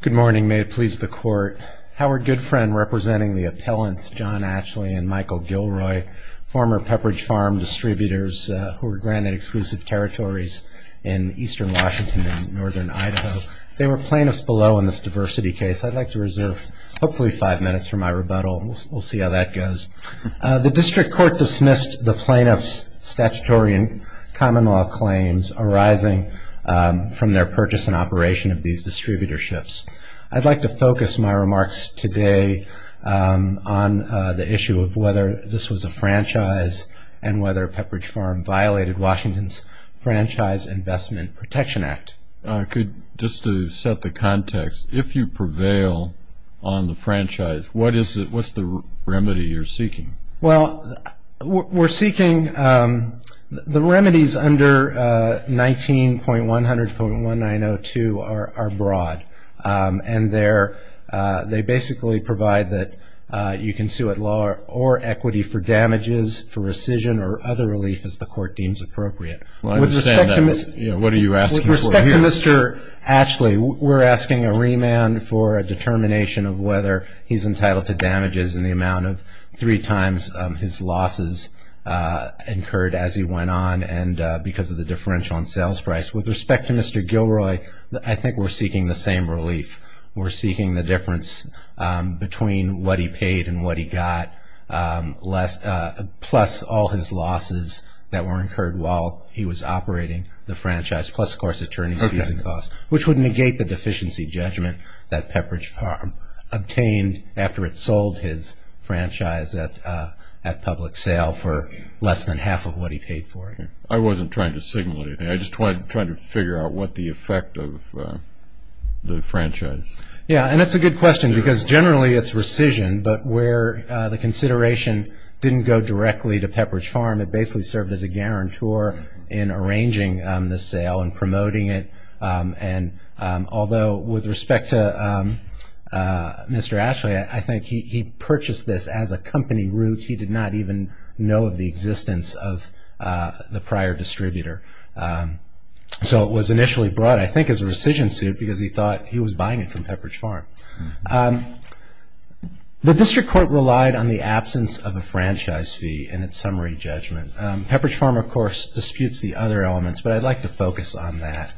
Good morning, may it please the court. Howard Goodfriend representing the appellants John Atchley and Michael Gilroy, former Pepperidge Farm distributors who were granted exclusive territories in eastern Washington and northern Idaho. They were plaintiffs below in this diversity case. I'd like to reserve hopefully five minutes for my rebuttal. We'll see how that goes. The district court dismissed the plaintiffs statutory and common law claims arising from their purchase and operation of these distributorships. I'd like to focus my remarks today on the issue of whether this was a franchise and whether Pepperidge Farm violated Washington's Franchise Investment Protection Act. Just to set the context, if you prevail on the franchise, what is it, what's the remedy you're seeking? Well, we're seeking, the remedies under 19.100.1902 are broad, and they basically provide that you can sue at law or equity for damages for rescission or other relief as the court deems appropriate. With respect to Mr. Atchley, we're asking a remand for a determination of whether he's entitled to three times his losses incurred as he went on, and because of the differential on sales price. With respect to Mr. Gilroy, I think we're seeking the same relief. We're seeking the difference between what he paid and what he got plus all his losses that were incurred while he was operating the franchise, plus, of course, attorney's fees and costs, which would negate the deficiency judgment that Pepperidge Farm obtained after it sold his franchise at public sale for less than half of what he paid for it. I wasn't trying to signal anything. I just wanted to try to figure out what the effect of the franchise. Yeah, and that's a good question because generally it's rescission, but where the consideration didn't go directly to Pepperidge Farm, it basically served as a guarantor in respect to Mr. Atchley. I think he purchased this as a company route. He did not even know of the existence of the prior distributor, so it was initially brought, I think, as a rescission suit because he thought he was buying it from Pepperidge Farm. The district court relied on the absence of a franchise fee in its summary judgment. Pepperidge Farm, of course, disputes the other elements, but I'd like to focus on that.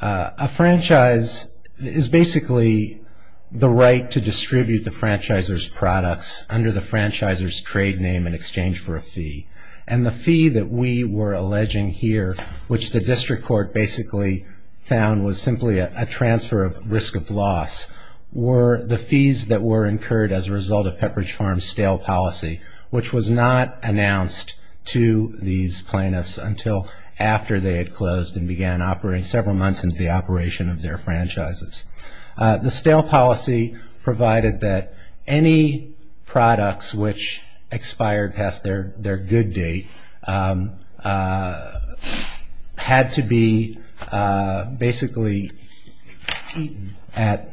A franchise is basically the right to distribute the franchisor's products under the franchisor's trade name in exchange for a fee. The fee that we were alleging here, which the district court basically found was simply a transfer of risk of loss, were the fees that were incurred as a result of Pepperidge Farm's stale policy, which was not announced to these plaintiffs until after they had closed and began operating several months into the operation of their franchises. The stale policy provided that any products which expired past their good date had to be basically at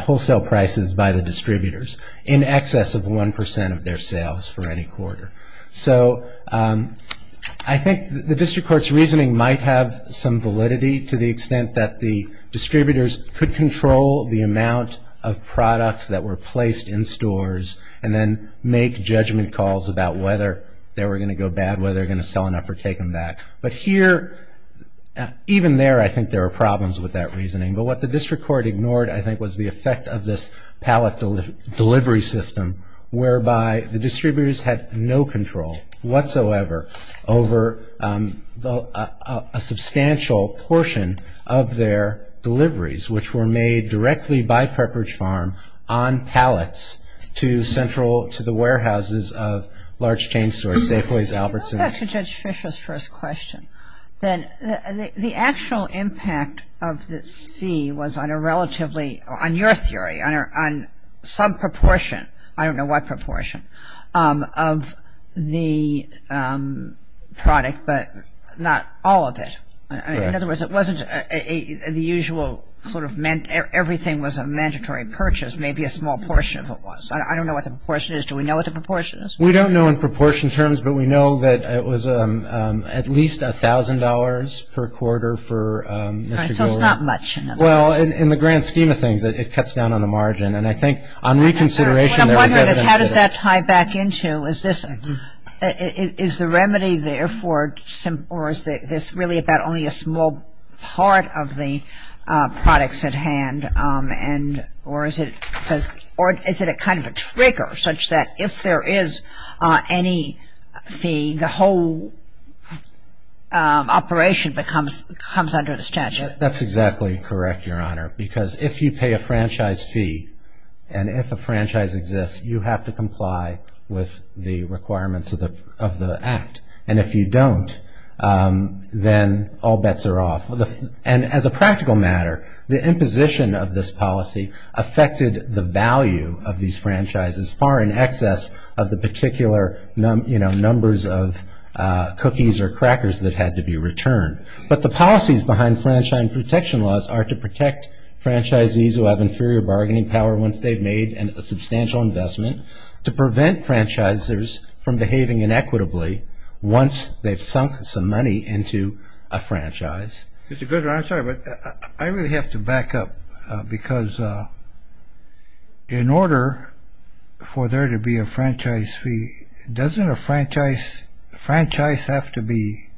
wholesale prices by the distributors in excess of 1% of their quarter. So I think the district court's reasoning might have some validity to the extent that the distributors could control the amount of products that were placed in stores and then make judgment calls about whether they were going to go bad, whether they were going to sell enough or take them back. But here, even there, I think there were problems with that reasoning. But what the district court ignored, I think, was the effect of this pallet delivery system whereby the distributors had no control whatsoever over a substantial portion of their deliveries, which were made directly by Pepperidge Farm on pallets to central to the warehouses of large chain stores, Safeway's, Albertsons. Let me go back to Judge Fisher's first question. The actual impact of this fee was on a relatively, on your theory, on some proportion, I don't know what proportion, of the product, but not all of it. In other words, it wasn't the usual sort of, everything was a mandatory purchase, maybe a small portion of it was. I don't know what the proportion is. Do we know what the proportion is? We don't know in proportion terms, but we know that it was at least $1,000 per quarter for Mr. Golden. So it's not much. Well, in the grand scheme of things, it cuts down on the margin. And I think on reconsideration, there is evidence of it. What I'm wondering is, how does that tie back into, is this, is the remedy therefore, or is this really about only a small part of the products at hand, and, or is it a kind of a trigger, such that if there is any fee, the whole operation becomes, comes under the statute? That's exactly correct, Your Honor, because if you pay a franchise fee, and if a franchise exists, you have to comply with the requirements of the act. And if you don't, then all bets are off. And as a practical matter, the imposition of this policy affected the value of these franchises, far in excess of the particular, you know, numbers of cookies or crackers that had to be returned. But the policies behind franchise protection laws are to protect franchisees who have inferior bargaining power once they've made a substantial investment, to prevent franchisers from behaving inequitably once they've sunk some money into a franchise. Mr. Goodron, I'm sorry, but I really have to back up, because in order for there to be a franchise fee, doesn't a franchise, franchise have to be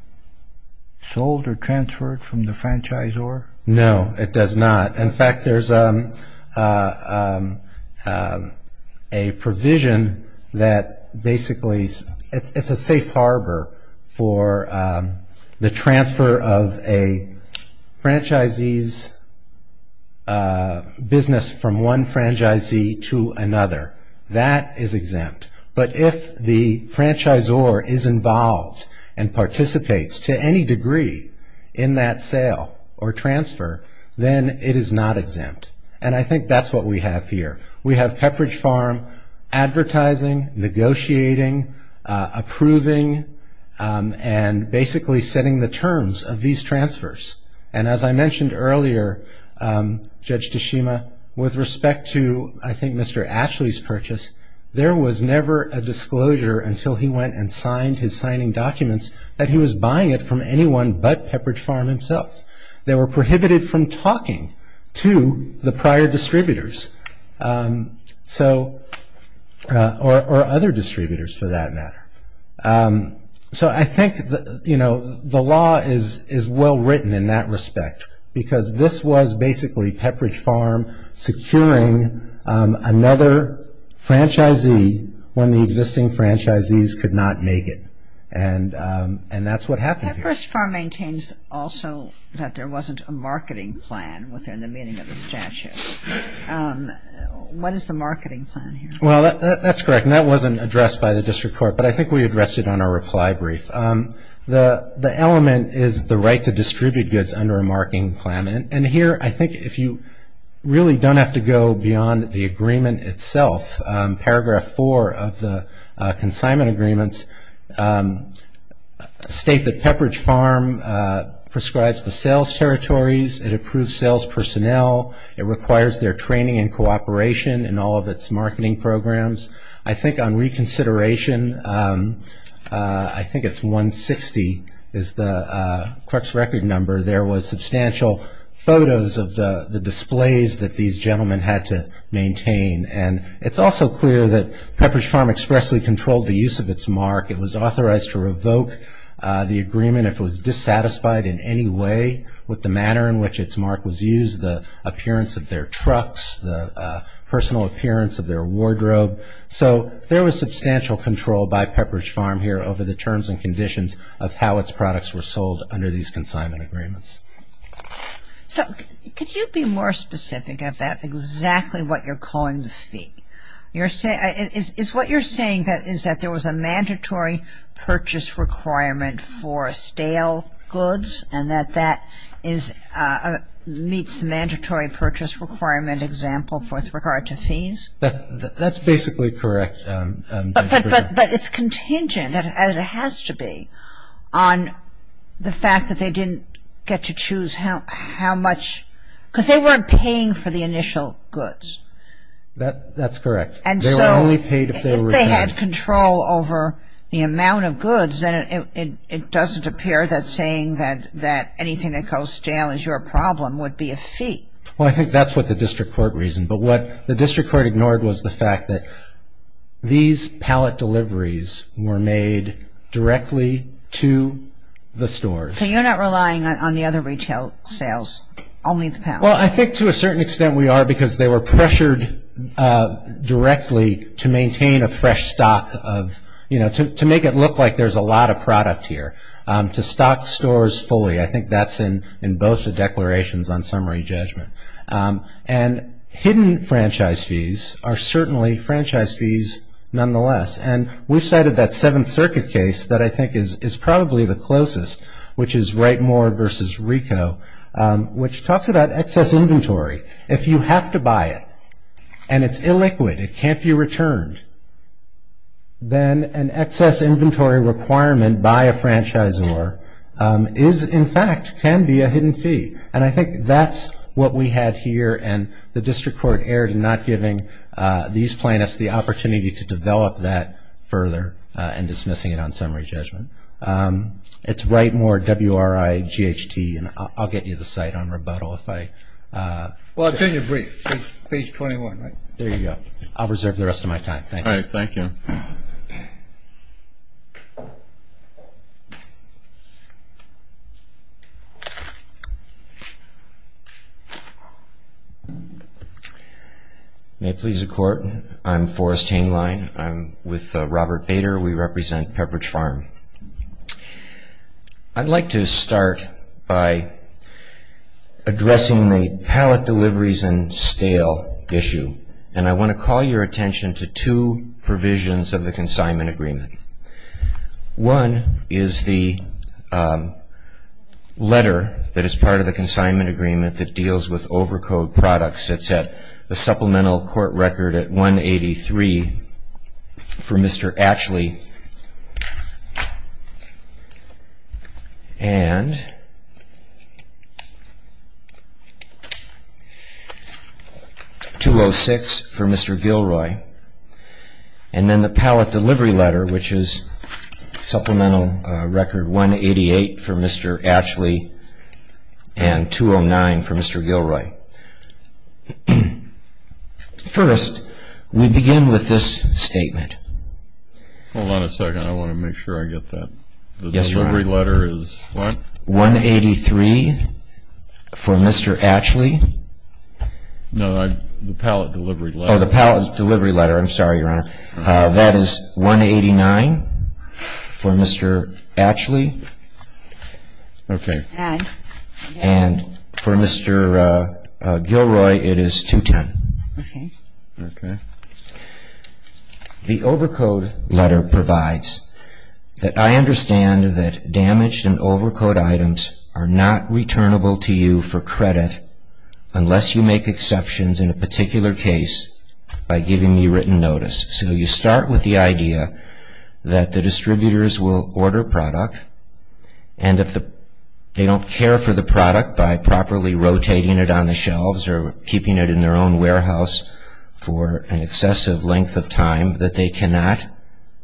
sold or transferred from the franchisor? No, it does not. In fact, there's a provision that basically, it's a safe harbor for the transfer of a franchisee's business from one franchisee to another. That is exempt. But if the franchisor is involved and participates to any degree in that sale or transfer, then it is not exempt. And I think that's what we have here. We have Pepperidge Farm advertising, negotiating, approving, and basically setting the terms of these transfers. And as I mentioned earlier, Judge Tashima, with respect to, I think, Mr. Ashley's purchase, there was never a disclosure until he went and signed his signing documents that he was buying it from anyone but Pepperidge Farm himself. They were prohibited from talking to the prior distributors or other in that respect, because this was basically Pepperidge Farm securing another franchisee when the existing franchisees could not make it. And that's what happened here. Pepperidge Farm maintains also that there wasn't a marketing plan within the meaning of the statute. What is the marketing plan here? Well, that's correct. And that wasn't addressed by the district court, but I think we addressed it on our reply brief. The element is the right to under a marketing plan. And here, I think, if you really don't have to go beyond the agreement itself, paragraph four of the consignment agreements state that Pepperidge Farm prescribes the sales territories, it approves sales personnel, it requires their training and cooperation in all of its marketing programs. I think on reconsideration, I think it's 160 is the truck's record number, there was substantial photos of the displays that these gentlemen had to maintain. And it's also clear that Pepperidge Farm expressly controlled the use of its mark. It was authorized to revoke the agreement if it was dissatisfied in any way with the manner in which its mark was used, the appearance of their trucks, the personal appearance of their wardrobe. So there was substantial control by Pepperidge Farm here over the products were sold under these consignment agreements. So could you be more specific about exactly what you're calling the fee? Is what you're saying is that there was a mandatory purchase requirement for stale goods and that that meets the mandatory purchase requirement example with regard to fees? That's basically correct, Judge Briggs. But it's contingent, and it has to be, on the fact that they didn't get to choose how much, because they weren't paying for the initial goods. That's correct. And so if they had control over the amount of goods, then it doesn't appear that saying that anything that goes stale is your problem would be a fee. Well, I think that's what the district court reasoned. But what the district court ignored was the fact that these pallet deliveries were made directly to the stores. So you're not relying on the other retail sales, only the pallet? Well, I think to a certain extent we are, because they were pressured directly to maintain a fresh stock of, you know, to make it look like there's a lot of product here, to stock stores fully. I think that's in both the declarations on summary judgment. And hidden franchise fees are certainly franchise fees nonetheless. And we've cited that Seventh Circuit case that I think is probably the closest, which is Wrightmoor v. Rico, which talks about excess inventory. If you have to buy it, and it's illiquid, it can't be returned, then an excess inventory requirement by a franchisor is, in fact, can be a hidden fee. And I think that's what we had here. And the district court erred in not giving these plaintiffs the opportunity to develop that further and dismissing it on summary judgment. It's Wrightmoor, W-R-I-G-H-T. And I'll get you the site on rebuttal if I... Well, it's in your brief, page 21, right? There you go. I'll reserve the rest of my time. Thank you. All right. Thank you. May it please the Court, I'm Forrest Hainline. I'm with Robert Bader. We represent Pepperidge Farm. I'd like to start by addressing the pallet deliveries and stale issue. And I want to call your attention to two agreement that deals with overcode products. It's at the supplemental court record at 183 for Mr. Atchley and 206 for Mr. Gilroy. And then the pallet delivery letter, which is supplemental record 188 for Mr. Atchley and 209 for Mr. Gilroy. First, we begin with this statement. Hold on a second. I want to make sure I get that. Yes, Your Honor. The delivery letter is what? 183 for Mr. Atchley. No, the pallet delivery letter. Oh, the pallet delivery letter. I'm sorry, Your Honor. That is 189 for Mr. Atchley and for Mr. Gilroy it is 210. The overcode letter provides that I understand that damaged and overcode items are not returnable to you for credit unless you make exceptions in a particular case by giving me written notice. So you start with the idea that the distributors will order a product and if they don't care for the product by properly rotating it on the shelves or keeping it in their own warehouse for an excessive length of time that they cannot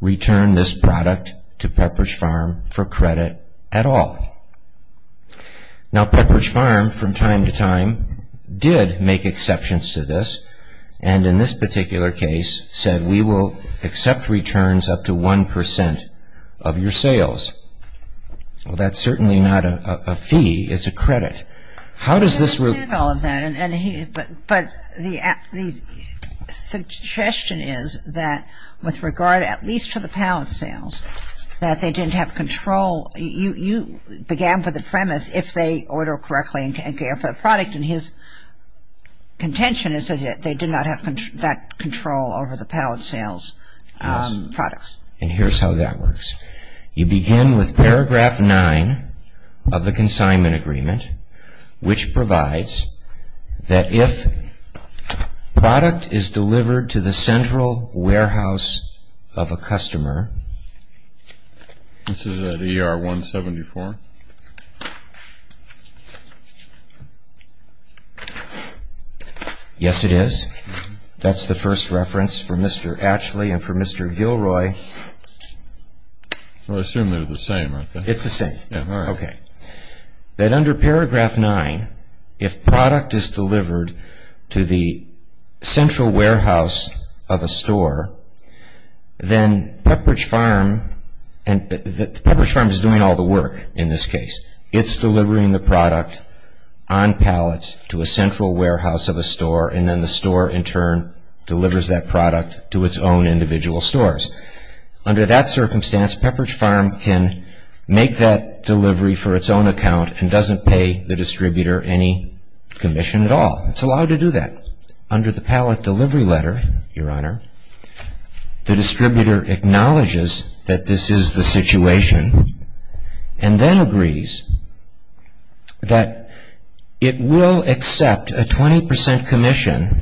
return this product to Pepperidge Farm for credit at all. Now Pepperidge Farm from time to time did make exceptions to this and in this particular case said we will accept returns up to 1 percent of your sales. Well, that's certainly not a fee. It's a credit. How does this work? I understand all of that. But the suggestion is that with regard at least to the pallet sales that they didn't have control. You began with the premise if they order correctly and care for the product and his contention is that they did not have that control over the pallet sales products. And here's how that works. You begin with paragraph 9 of the consignment agreement which provides that if product is delivered to the central warehouse of a customer. This That's the first reference for Mr. Atchley and for Mr. Gilroy. I assume they're the same. It's the same. Okay. That under paragraph 9 if product is delivered to the central warehouse of a store then Pepperidge Farm and that Pepperidge Farm is doing all the work in this case. It's delivering the product on in turn delivers that product to its own individual stores. Under that circumstance Pepperidge Farm can make that delivery for its own account and doesn't pay the distributor any commission at all. It's allowed to do that. Under the pallet delivery letter, Your Honor, the distributor acknowledges that this is the situation and then agrees that it will accept a 20% commission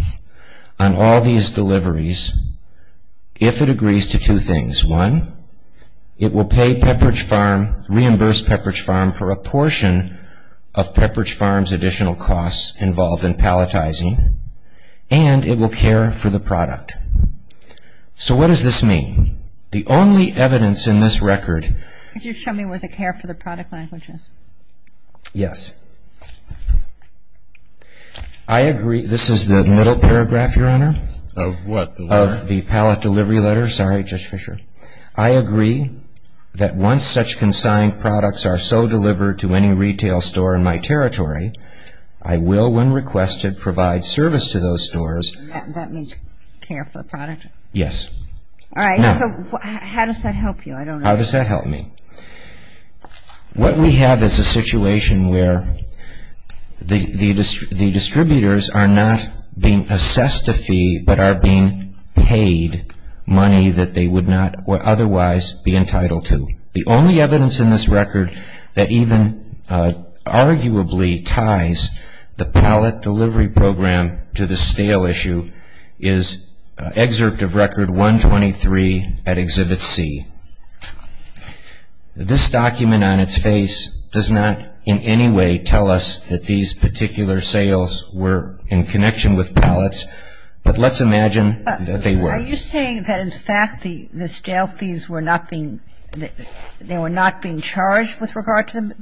on all these deliveries if it agrees to two things. One, it will pay Pepperidge Farm, reimburse Pepperidge Farm for a portion of Pepperidge Farm's additional costs involved in palletizing and it will care for the product. So what does this mean? The only evidence in this record. Could you show me where the care for the product line is? Yes. I agree. This is the middle paragraph, Your Honor. Of what? Of the pallet delivery letter. Sorry, Judge Fischer. I agree that once such consigned products are so delivered to any retail store in my territory, I will when requested provide service to those stores. That means care for the product? Yes. All right. So how does that help you? I don't know. How does that help me? What we have is a situation where the distributors are not being assessed a fee but are being paid money that they would not or otherwise be entitled to. The only evidence in this record that even arguably ties the pallet delivery program to the stale issue is excerpt of Record 123 at Exhibit C. This document on its face does not in any way tell us that these particular sales were in connection with pallets, but let's imagine that they were. Are you saying that in fact the stale fees were not being charged with regard to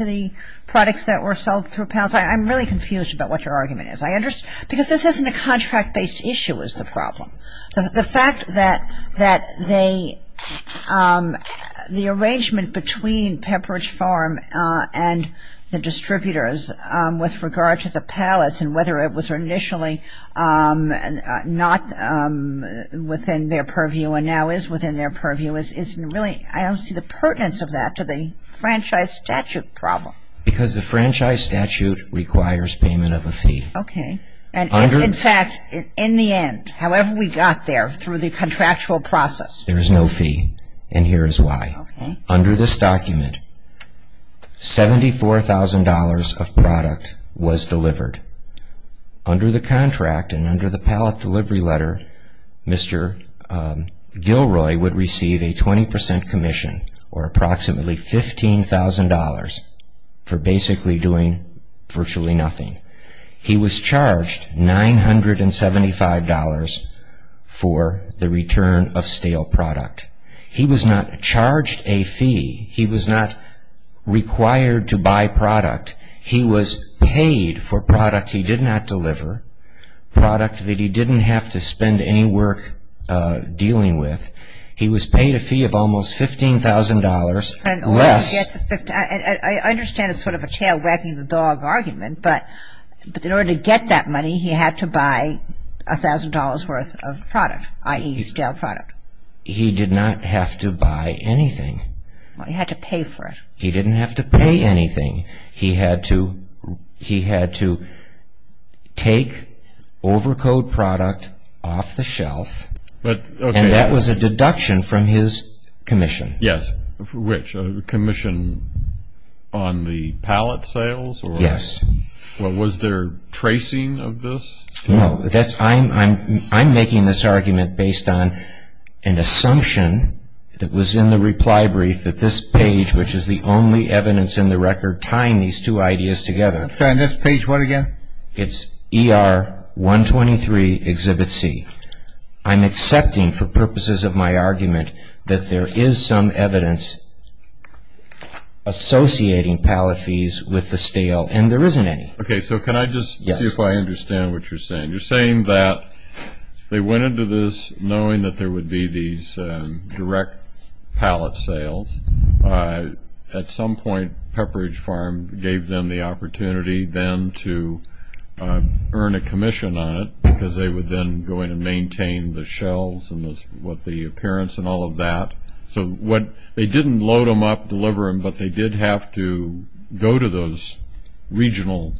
the products that were sold through pallets? I'm really confused about what your argument is. Because this isn't a contract-based issue is the fact that they the arrangement between Pepperidge Farm and the distributors with regard to the pallets and whether it was initially not within their purview and now is within their purview is really I don't see the pertinence of that to the franchise statute problem. Because the franchise statute requires payment of a fee. Okay. And in fact in the end however we got there through the contractual process. There is no fee and here is why. Under this document $74,000 of product was delivered. Under the contract and under the pallet delivery letter Mr. Gilroy would receive a 20 percent commission or approximately $15,000 for basically doing virtually nothing. He was charged $975 for the return of stale product. He was not charged a fee. He was not required to buy product. He was paid for product he did not deliver, product that he didn't have to spend any work dealing with. He was paid a fee of almost $15,000 less. I understand it's sort of a tail wagging the dog argument but in order to get that money he had to buy $1,000 worth of product, i.e. stale product. He did not have to buy anything. He had to pay for it. He didn't have to pay anything. He had to take over code product off the shelf and that was a deduction from his commission. Yes, which commission on the pallet sales? Yes. Was there tracing of this? No. I'm making this argument based on an assumption that was in the reply brief that this page which is the only evidence in the record tying these two ideas together. I'm sorry, this page what again? It's ER 123 Exhibit C. I'm accepting for purposes of my argument that there is some evidence associating pallet fees with the stale and there isn't any. Okay, so can I just see if I understand what you're saying. You're saying that they went into this knowing that there would be these direct pallet sales. At some point Pepperidge Farm gave them the opportunity then to earn a commission on it because they would then go in and maintain the shelves and what the appearance and all of that. They didn't load them up, deliver them, but they did have to go to those regional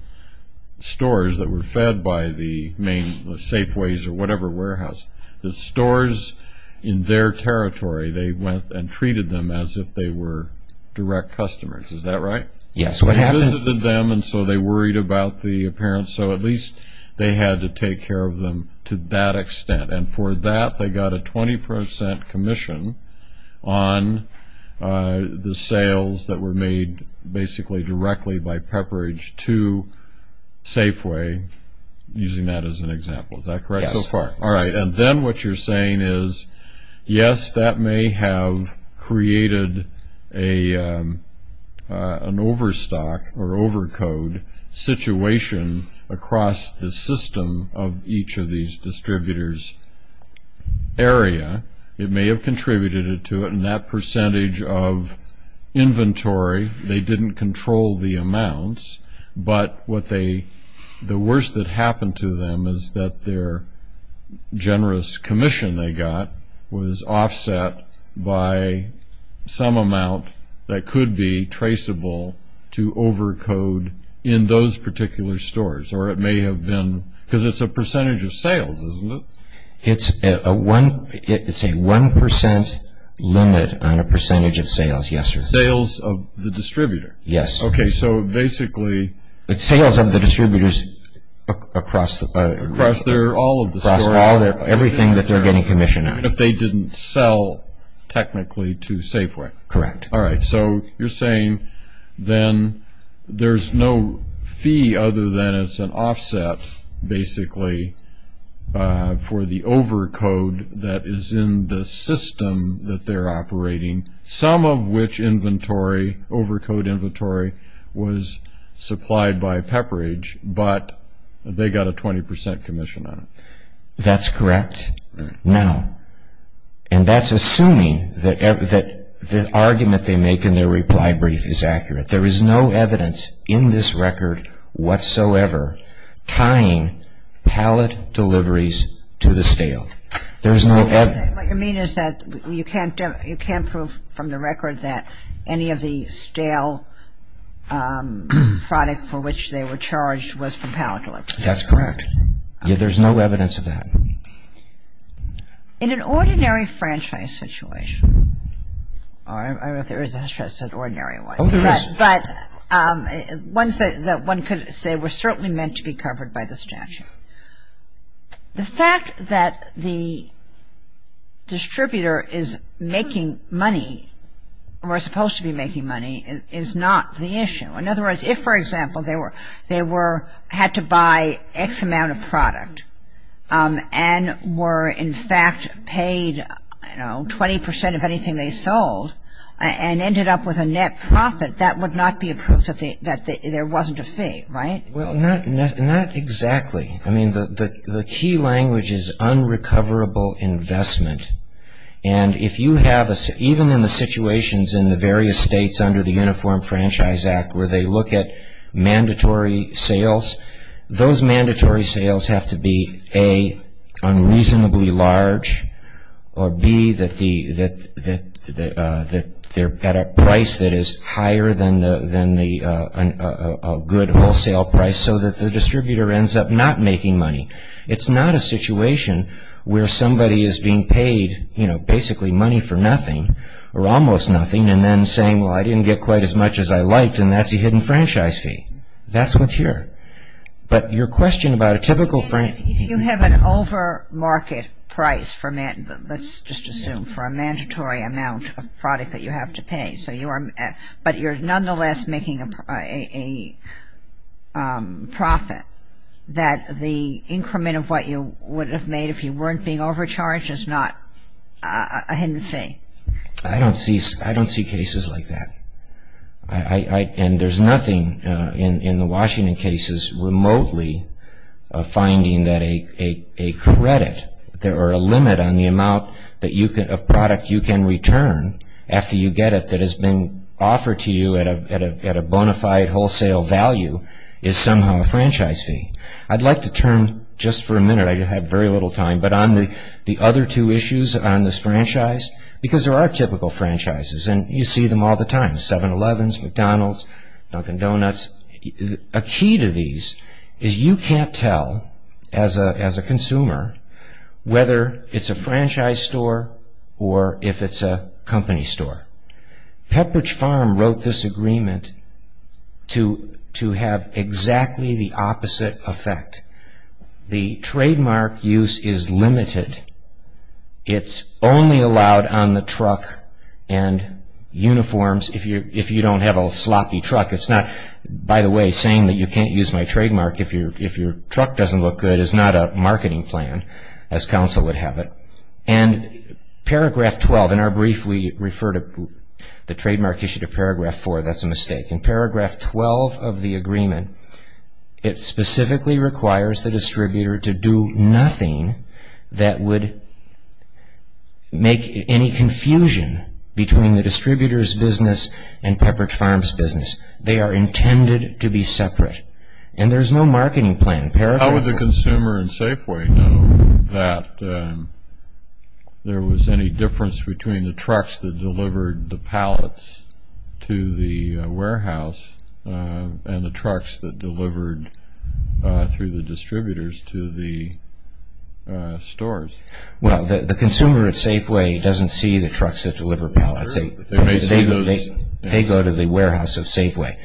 stores that were fed by the main Safeways or whatever warehouse. The stores in their territory, they went and treated them as if they were direct customers. Is that right? Yes. They visited them and so they worried about the appearance, so at least they had to take care of them to that extent. And for that they got a 20% commission on the sales that were made basically directly by Pepperidge to Safeway, using that as an example. Is that correct so far? Yes. All right. And then what you're saying is, yes, that may have created an overstock or each of these distributors' area, it may have contributed to it, and that percentage of inventory, they didn't control the amounts, but the worst that happened to them is that their generous commission they got was offset by some amount that could be traceable to overcode in those particular stores. Or it may have been, because it's a percentage of sales, isn't it? It's a 1% limit on a percentage of sales, yes, sir. Sales of the distributor? Yes. Okay. So basically... It's sales of the distributors across... Across all of the stores? Across everything that they're getting commission on. If they didn't sell technically to Safeway? Correct. All right. So you're saying then there's no fee other than it's an offset, basically, for the overcode that is in the system that they're operating, some of which inventory, overcode inventory, was supplied by Pepperidge, but they got a 20% commission on it. That's correct. Now, and that's assuming that the argument they make in their reply brief is accurate. There is no evidence in this record whatsoever tying pallet deliveries to the stale. There's no evidence... So you're saying what you mean is that you can't prove from the record that any of the stale product for which they were charged was from pallet deliveries? That's correct. Yeah, there's no evidence of that. In an ordinary franchise situation, or if there is a franchise, an ordinary one... Oh, there is. But one could say were certainly meant to be covered by the statute. The fact that the distributor is making money, or is supposed to be making money, is not the issue. In other words, if, for example, they had to buy X amount of product, and were in fact paid 20% of anything they sold, and ended up with a net profit, that would not be a proof that there wasn't a fee, right? Well, not exactly. I mean, the key language is unrecoverable investment. And if you have, even in the situations in the various states under the they look at mandatory sales, those mandatory sales have to be, A, unreasonably large, or B, that they're at a price that is higher than a good wholesale price, so that the distributor ends up not making money. It's not a situation where somebody is being paid, you know, basically money for nothing, or almost nothing, and then saying, well, I didn't get quite as good in franchise fee. That's what's here. But your question about a typical franchise fee. You have an over-market price for, let's just assume, for a mandatory amount of product that you have to pay, so you are, but you're nonetheless making a profit that the increment of what you would have made if you weren't being overcharged is not a hidden thing. I don't see, I don't see cases like that. And there's nothing in the Washington cases remotely of finding that a credit, or a limit on the amount of product you can return after you get it that has been offered to you at a bona fide wholesale value is somehow a franchise fee. I'd like to turn, just for a minute, I have very little time, but on the other two issues on this franchise, because there are typical franchises, and you see them all the time, 7-Elevens, McDonald's, Dunkin' Donuts. A key to these is you can't tell, as a consumer, whether it's a franchise store or if it's a company store. Pepperidge Farm wrote this agreement to have exactly the opposite effect. The trademark use is limited. It's only allowed on the truck and uniforms if you don't have a sloppy truck. It's not, by the way, saying that you can't use my trademark if your truck doesn't look good is not a marketing plan, as counsel would have it. And paragraph 12, in our brief, we refer to the trademark issue to paragraph 4. That's a mistake. In paragraph 12 of the agreement, it specifically requires the distributor to do nothing that would make any confusion between the distributors' business and Pepperidge Farm's business. They are intended to be separate, and there's no marketing plan. Paragraph 4. How would the consumer in Safeway know that there was any difference between the trucks that delivered the pallets to the warehouse and the trucks that delivered the pallets to the stores? Well, the consumer at Safeway doesn't see the trucks that deliver pallets. They may see those. They go to the warehouse at Safeway.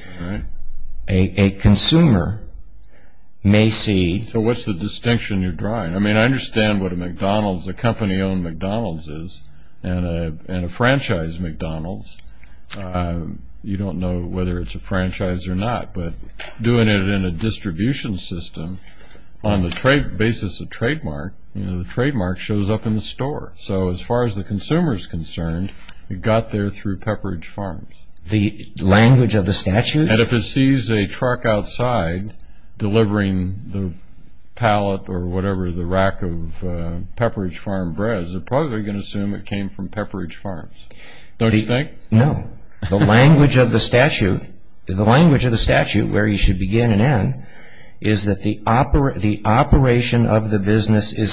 A consumer may see. So what's the distinction you're drawing? I mean, I understand what a McDonald's, a company-owned McDonald's is, and a franchise McDonald's. You don't know whether it's a franchise or not, but doing it in a distribution system on the basis of trademark, the trademark shows up in the store. So as far as the consumer is concerned, it got there through Pepperidge Farms. The language of the statute? And if it sees a truck outside delivering the pallet or whatever, the rack of Pepperidge Farm breads, they're probably going to assume it came from Pepperidge Farms. Don't you think? No. The language of the statute, where you should begin and end, is that the operation of the business is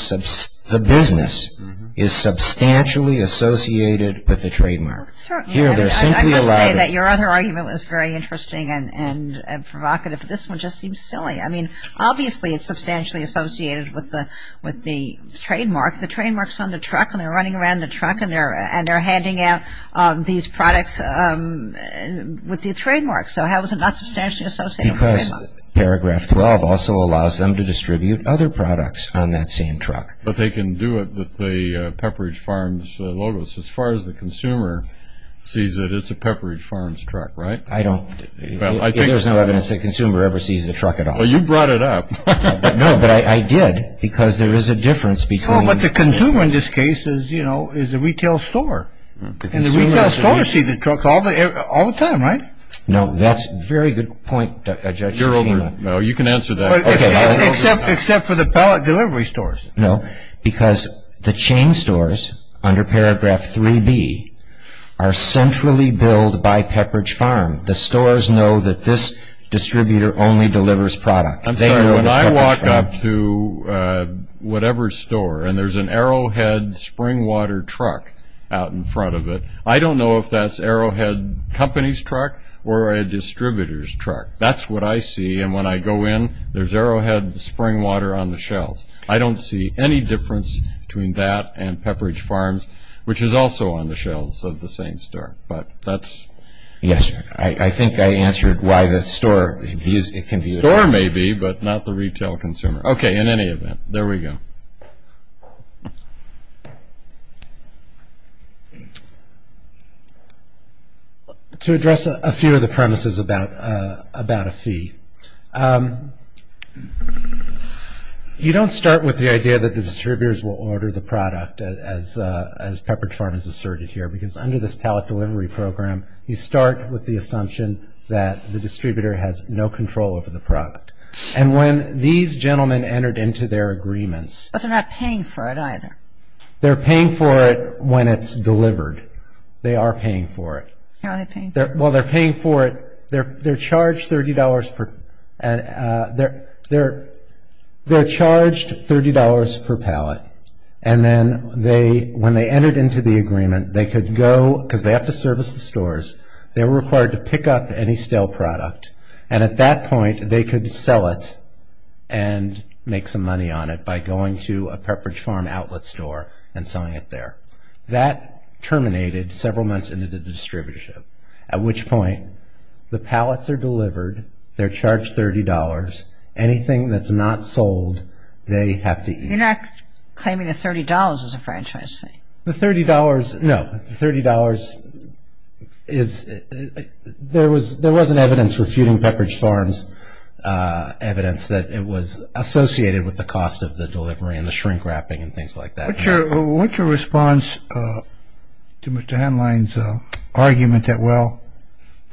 substantially associated with the trademark. I must say that your other argument was very interesting and provocative, but this one just seems silly. I mean, obviously it's substantially associated with the trademark. The trademark's on the truck, and they're running around the truck, and they're handing out these products with the trademark. So how is it not substantially associated with the trademark? Because paragraph 12 also allows them to distribute other products on that same truck. But they can do it with the Pepperidge Farms logo. So as far as the consumer sees it, it's a Pepperidge Farms truck, right? I don't. Well, I think so. There's no evidence the consumer ever sees the truck at all. Well, you brought it up. No, but I did, because there is a difference between... Well, but the consumer in this case is the retail store. And the retail store sees the truck all the time, right? No, that's a very good point, Judge Akima. You're over. No, you can answer that. Okay, I'll answer that. Except for the pallet delivery stores. No, because the chain stores, under paragraph 3B, are centrally billed by Pepperidge Farms. The stores know that this distributor only delivers product. I'm sorry. When I walk up to whatever store and there's an Arrowhead Springwater truck out in front of it, I don't know if that's Arrowhead Company's truck or a distributor's truck. That's what I see. And when I go in, there's Arrowhead Springwater on the shelves. I don't see any difference between that and Pepperidge Farms, which is also on the shelves of the same store. But that's... Yes. I think I answered why the store views it can be a truck. The store may be, but not the retail consumer. Okay, in any event, there we go. To address a few of the premises about a fee, you don't start with the idea that the distributors will order the product, as Pepperidge Farms asserted here, because under this pallet delivery program, you start with the assumption that the distributor has no control over the product. And when these gentlemen entered into their agreements... But they're not paying for it either. They're paying for it when it's delivered. They are paying for it. How are they paying for it? Well, they're paying for it, they're charged $30 per pallet, and then when they entered into the agreement, they could go, because they have to service the stores, they were required to pick up any stale product, and at that point, they could sell it and make some money on it by going to a Pepperidge Farm outlet store and selling it there. That terminated several months into the distributorship, at which point, the pallets are delivered, they're charged $30, anything that's not sold, they have to eat. You're not claiming the $30 as a franchise fee? The $30, no, the $30, there was an evidence for feuding Pepperidge Farms, evidence that it was associated with the cost of the delivery and the shrink wrapping and things like that. What's your response to Mr. Hanline's argument that, well,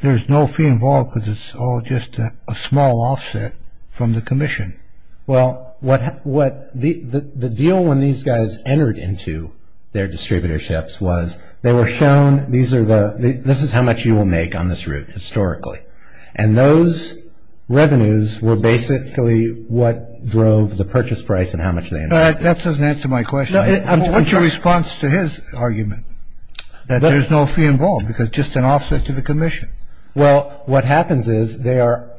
there's no fee involved because it's all just a small offset from the commission? Well, the deal when these guys entered into their distributorships was they were shown, these are the, this is how much you will make on this route, historically, and those revenues were basically what drove the purchase price and how much they invested. That doesn't answer my question. I'm sorry. What's your response to his argument that there's no fee involved because it's just an offset to the commission? Well, what happens is they are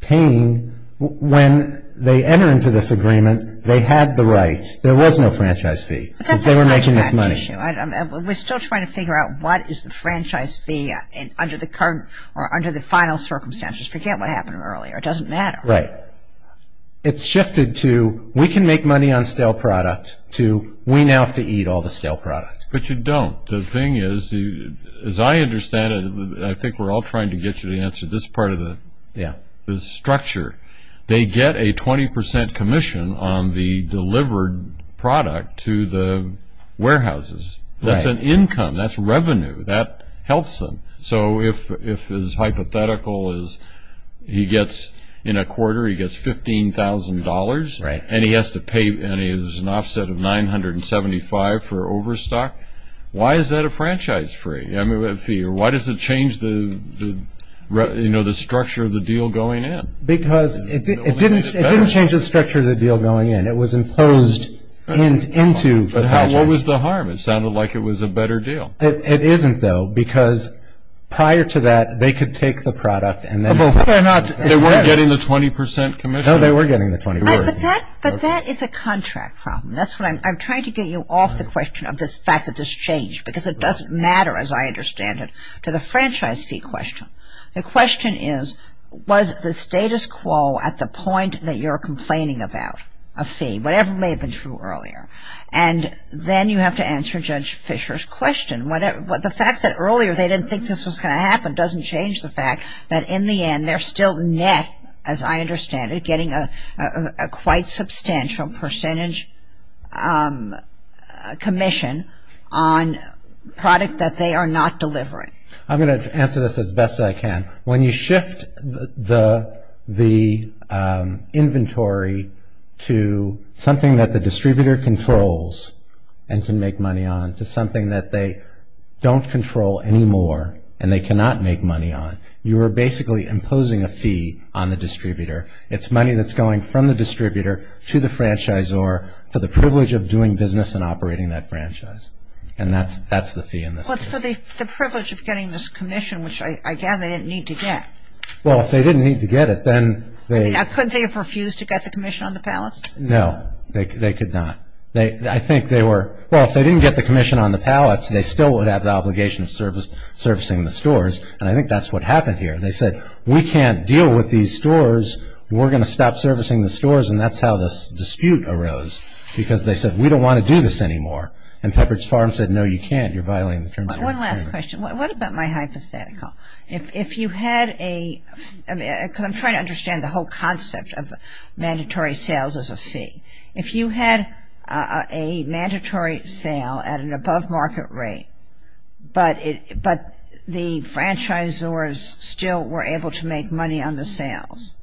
paying, when they enter into this agreement, they had the right, there was no franchise fee because they were making this money. That's not exactly the issue. We're still trying to figure out what is the franchise fee under the current, or under the final circumstances. Forget what happened earlier, it doesn't matter. Right. It's shifted to we can make money on stale product to we now have to eat all the stale product. But you don't. Well, the thing is, as I understand it, I think we're all trying to get you to answer this part of the structure. They get a 20% commission on the delivered product to the warehouses. That's an income. That's revenue. That helps them. So if his hypothetical is he gets, in a quarter, he gets $15,000 and he has to pay an offset of 975 for overstock. Why is that a franchise fee? Why does it change the structure of the deal going in? Because it didn't change the structure of the deal going in. It was imposed into the franchise. But what was the harm? It sounded like it was a better deal. It isn't, though, because prior to that, they could take the product and then sell it. They weren't getting the 20% commission? No, they were getting the 20%. But that is a contract problem. That's what I'm trying to get you off the question of this fact that this changed because it doesn't matter, as I understand it, to the franchise fee question. The question is, was the status quo at the point that you're complaining about a fee? Whatever may have been true earlier. And then you have to answer Judge Fisher's question. The fact that earlier they didn't think this was going to happen doesn't change the fact that, in the end, they're still net, as I understand it, getting a quite substantial percentage commission on product that they are not delivering. I'm going to answer this as best I can. When you shift the inventory to something that the distributor controls and can make money on to something that they don't control anymore and they cannot make money on, you are basically imposing a fee on the distributor. It's money that's going from the distributor to the franchisor for the privilege of doing business and operating that franchise. And that's the fee in this case. Well, it's for the privilege of getting this commission, which I gather they didn't need to get. Well, if they didn't need to get it, then they... I mean, couldn't they have refused to get the commission on the pallets? No, they could not. I think they were... Well, if they didn't get the commission on the pallets, they still would have the obligation of servicing the stores, and I think that's what happened here. They said, we can't deal with these stores. We're going to stop servicing the stores, and that's how this dispute arose, because they said, we don't want to do this anymore. And Pepperidge Farms said, no, you can't. You're violating the terms of your contract. One last question. What about my hypothetical? If you had a... Because I'm trying to understand the whole concept of mandatory sales as a fee. If you had a mandatory sale at an above market rate, but the franchisors still were able to make money on the sales,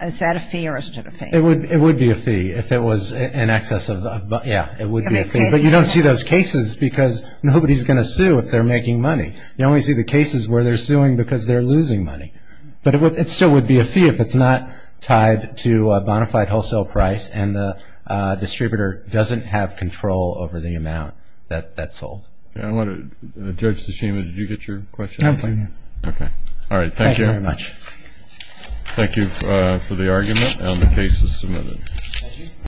is that a fee or isn't it a fee? It would be a fee if it was in excess of... Yeah, it would be a fee, but you don't see those cases because nobody's going to sue if they're making money. You only see the cases where they're suing because they're losing money, but it still would be a fee if it's not tied to a bonafide wholesale price and the distributor doesn't have control over the amount that's sold. I want to... Judge Tsushima, did you get your question? No, I'm fine now. Okay. All right. Thank you. Thank you very much. Thank you for the argument, and the case is submitted.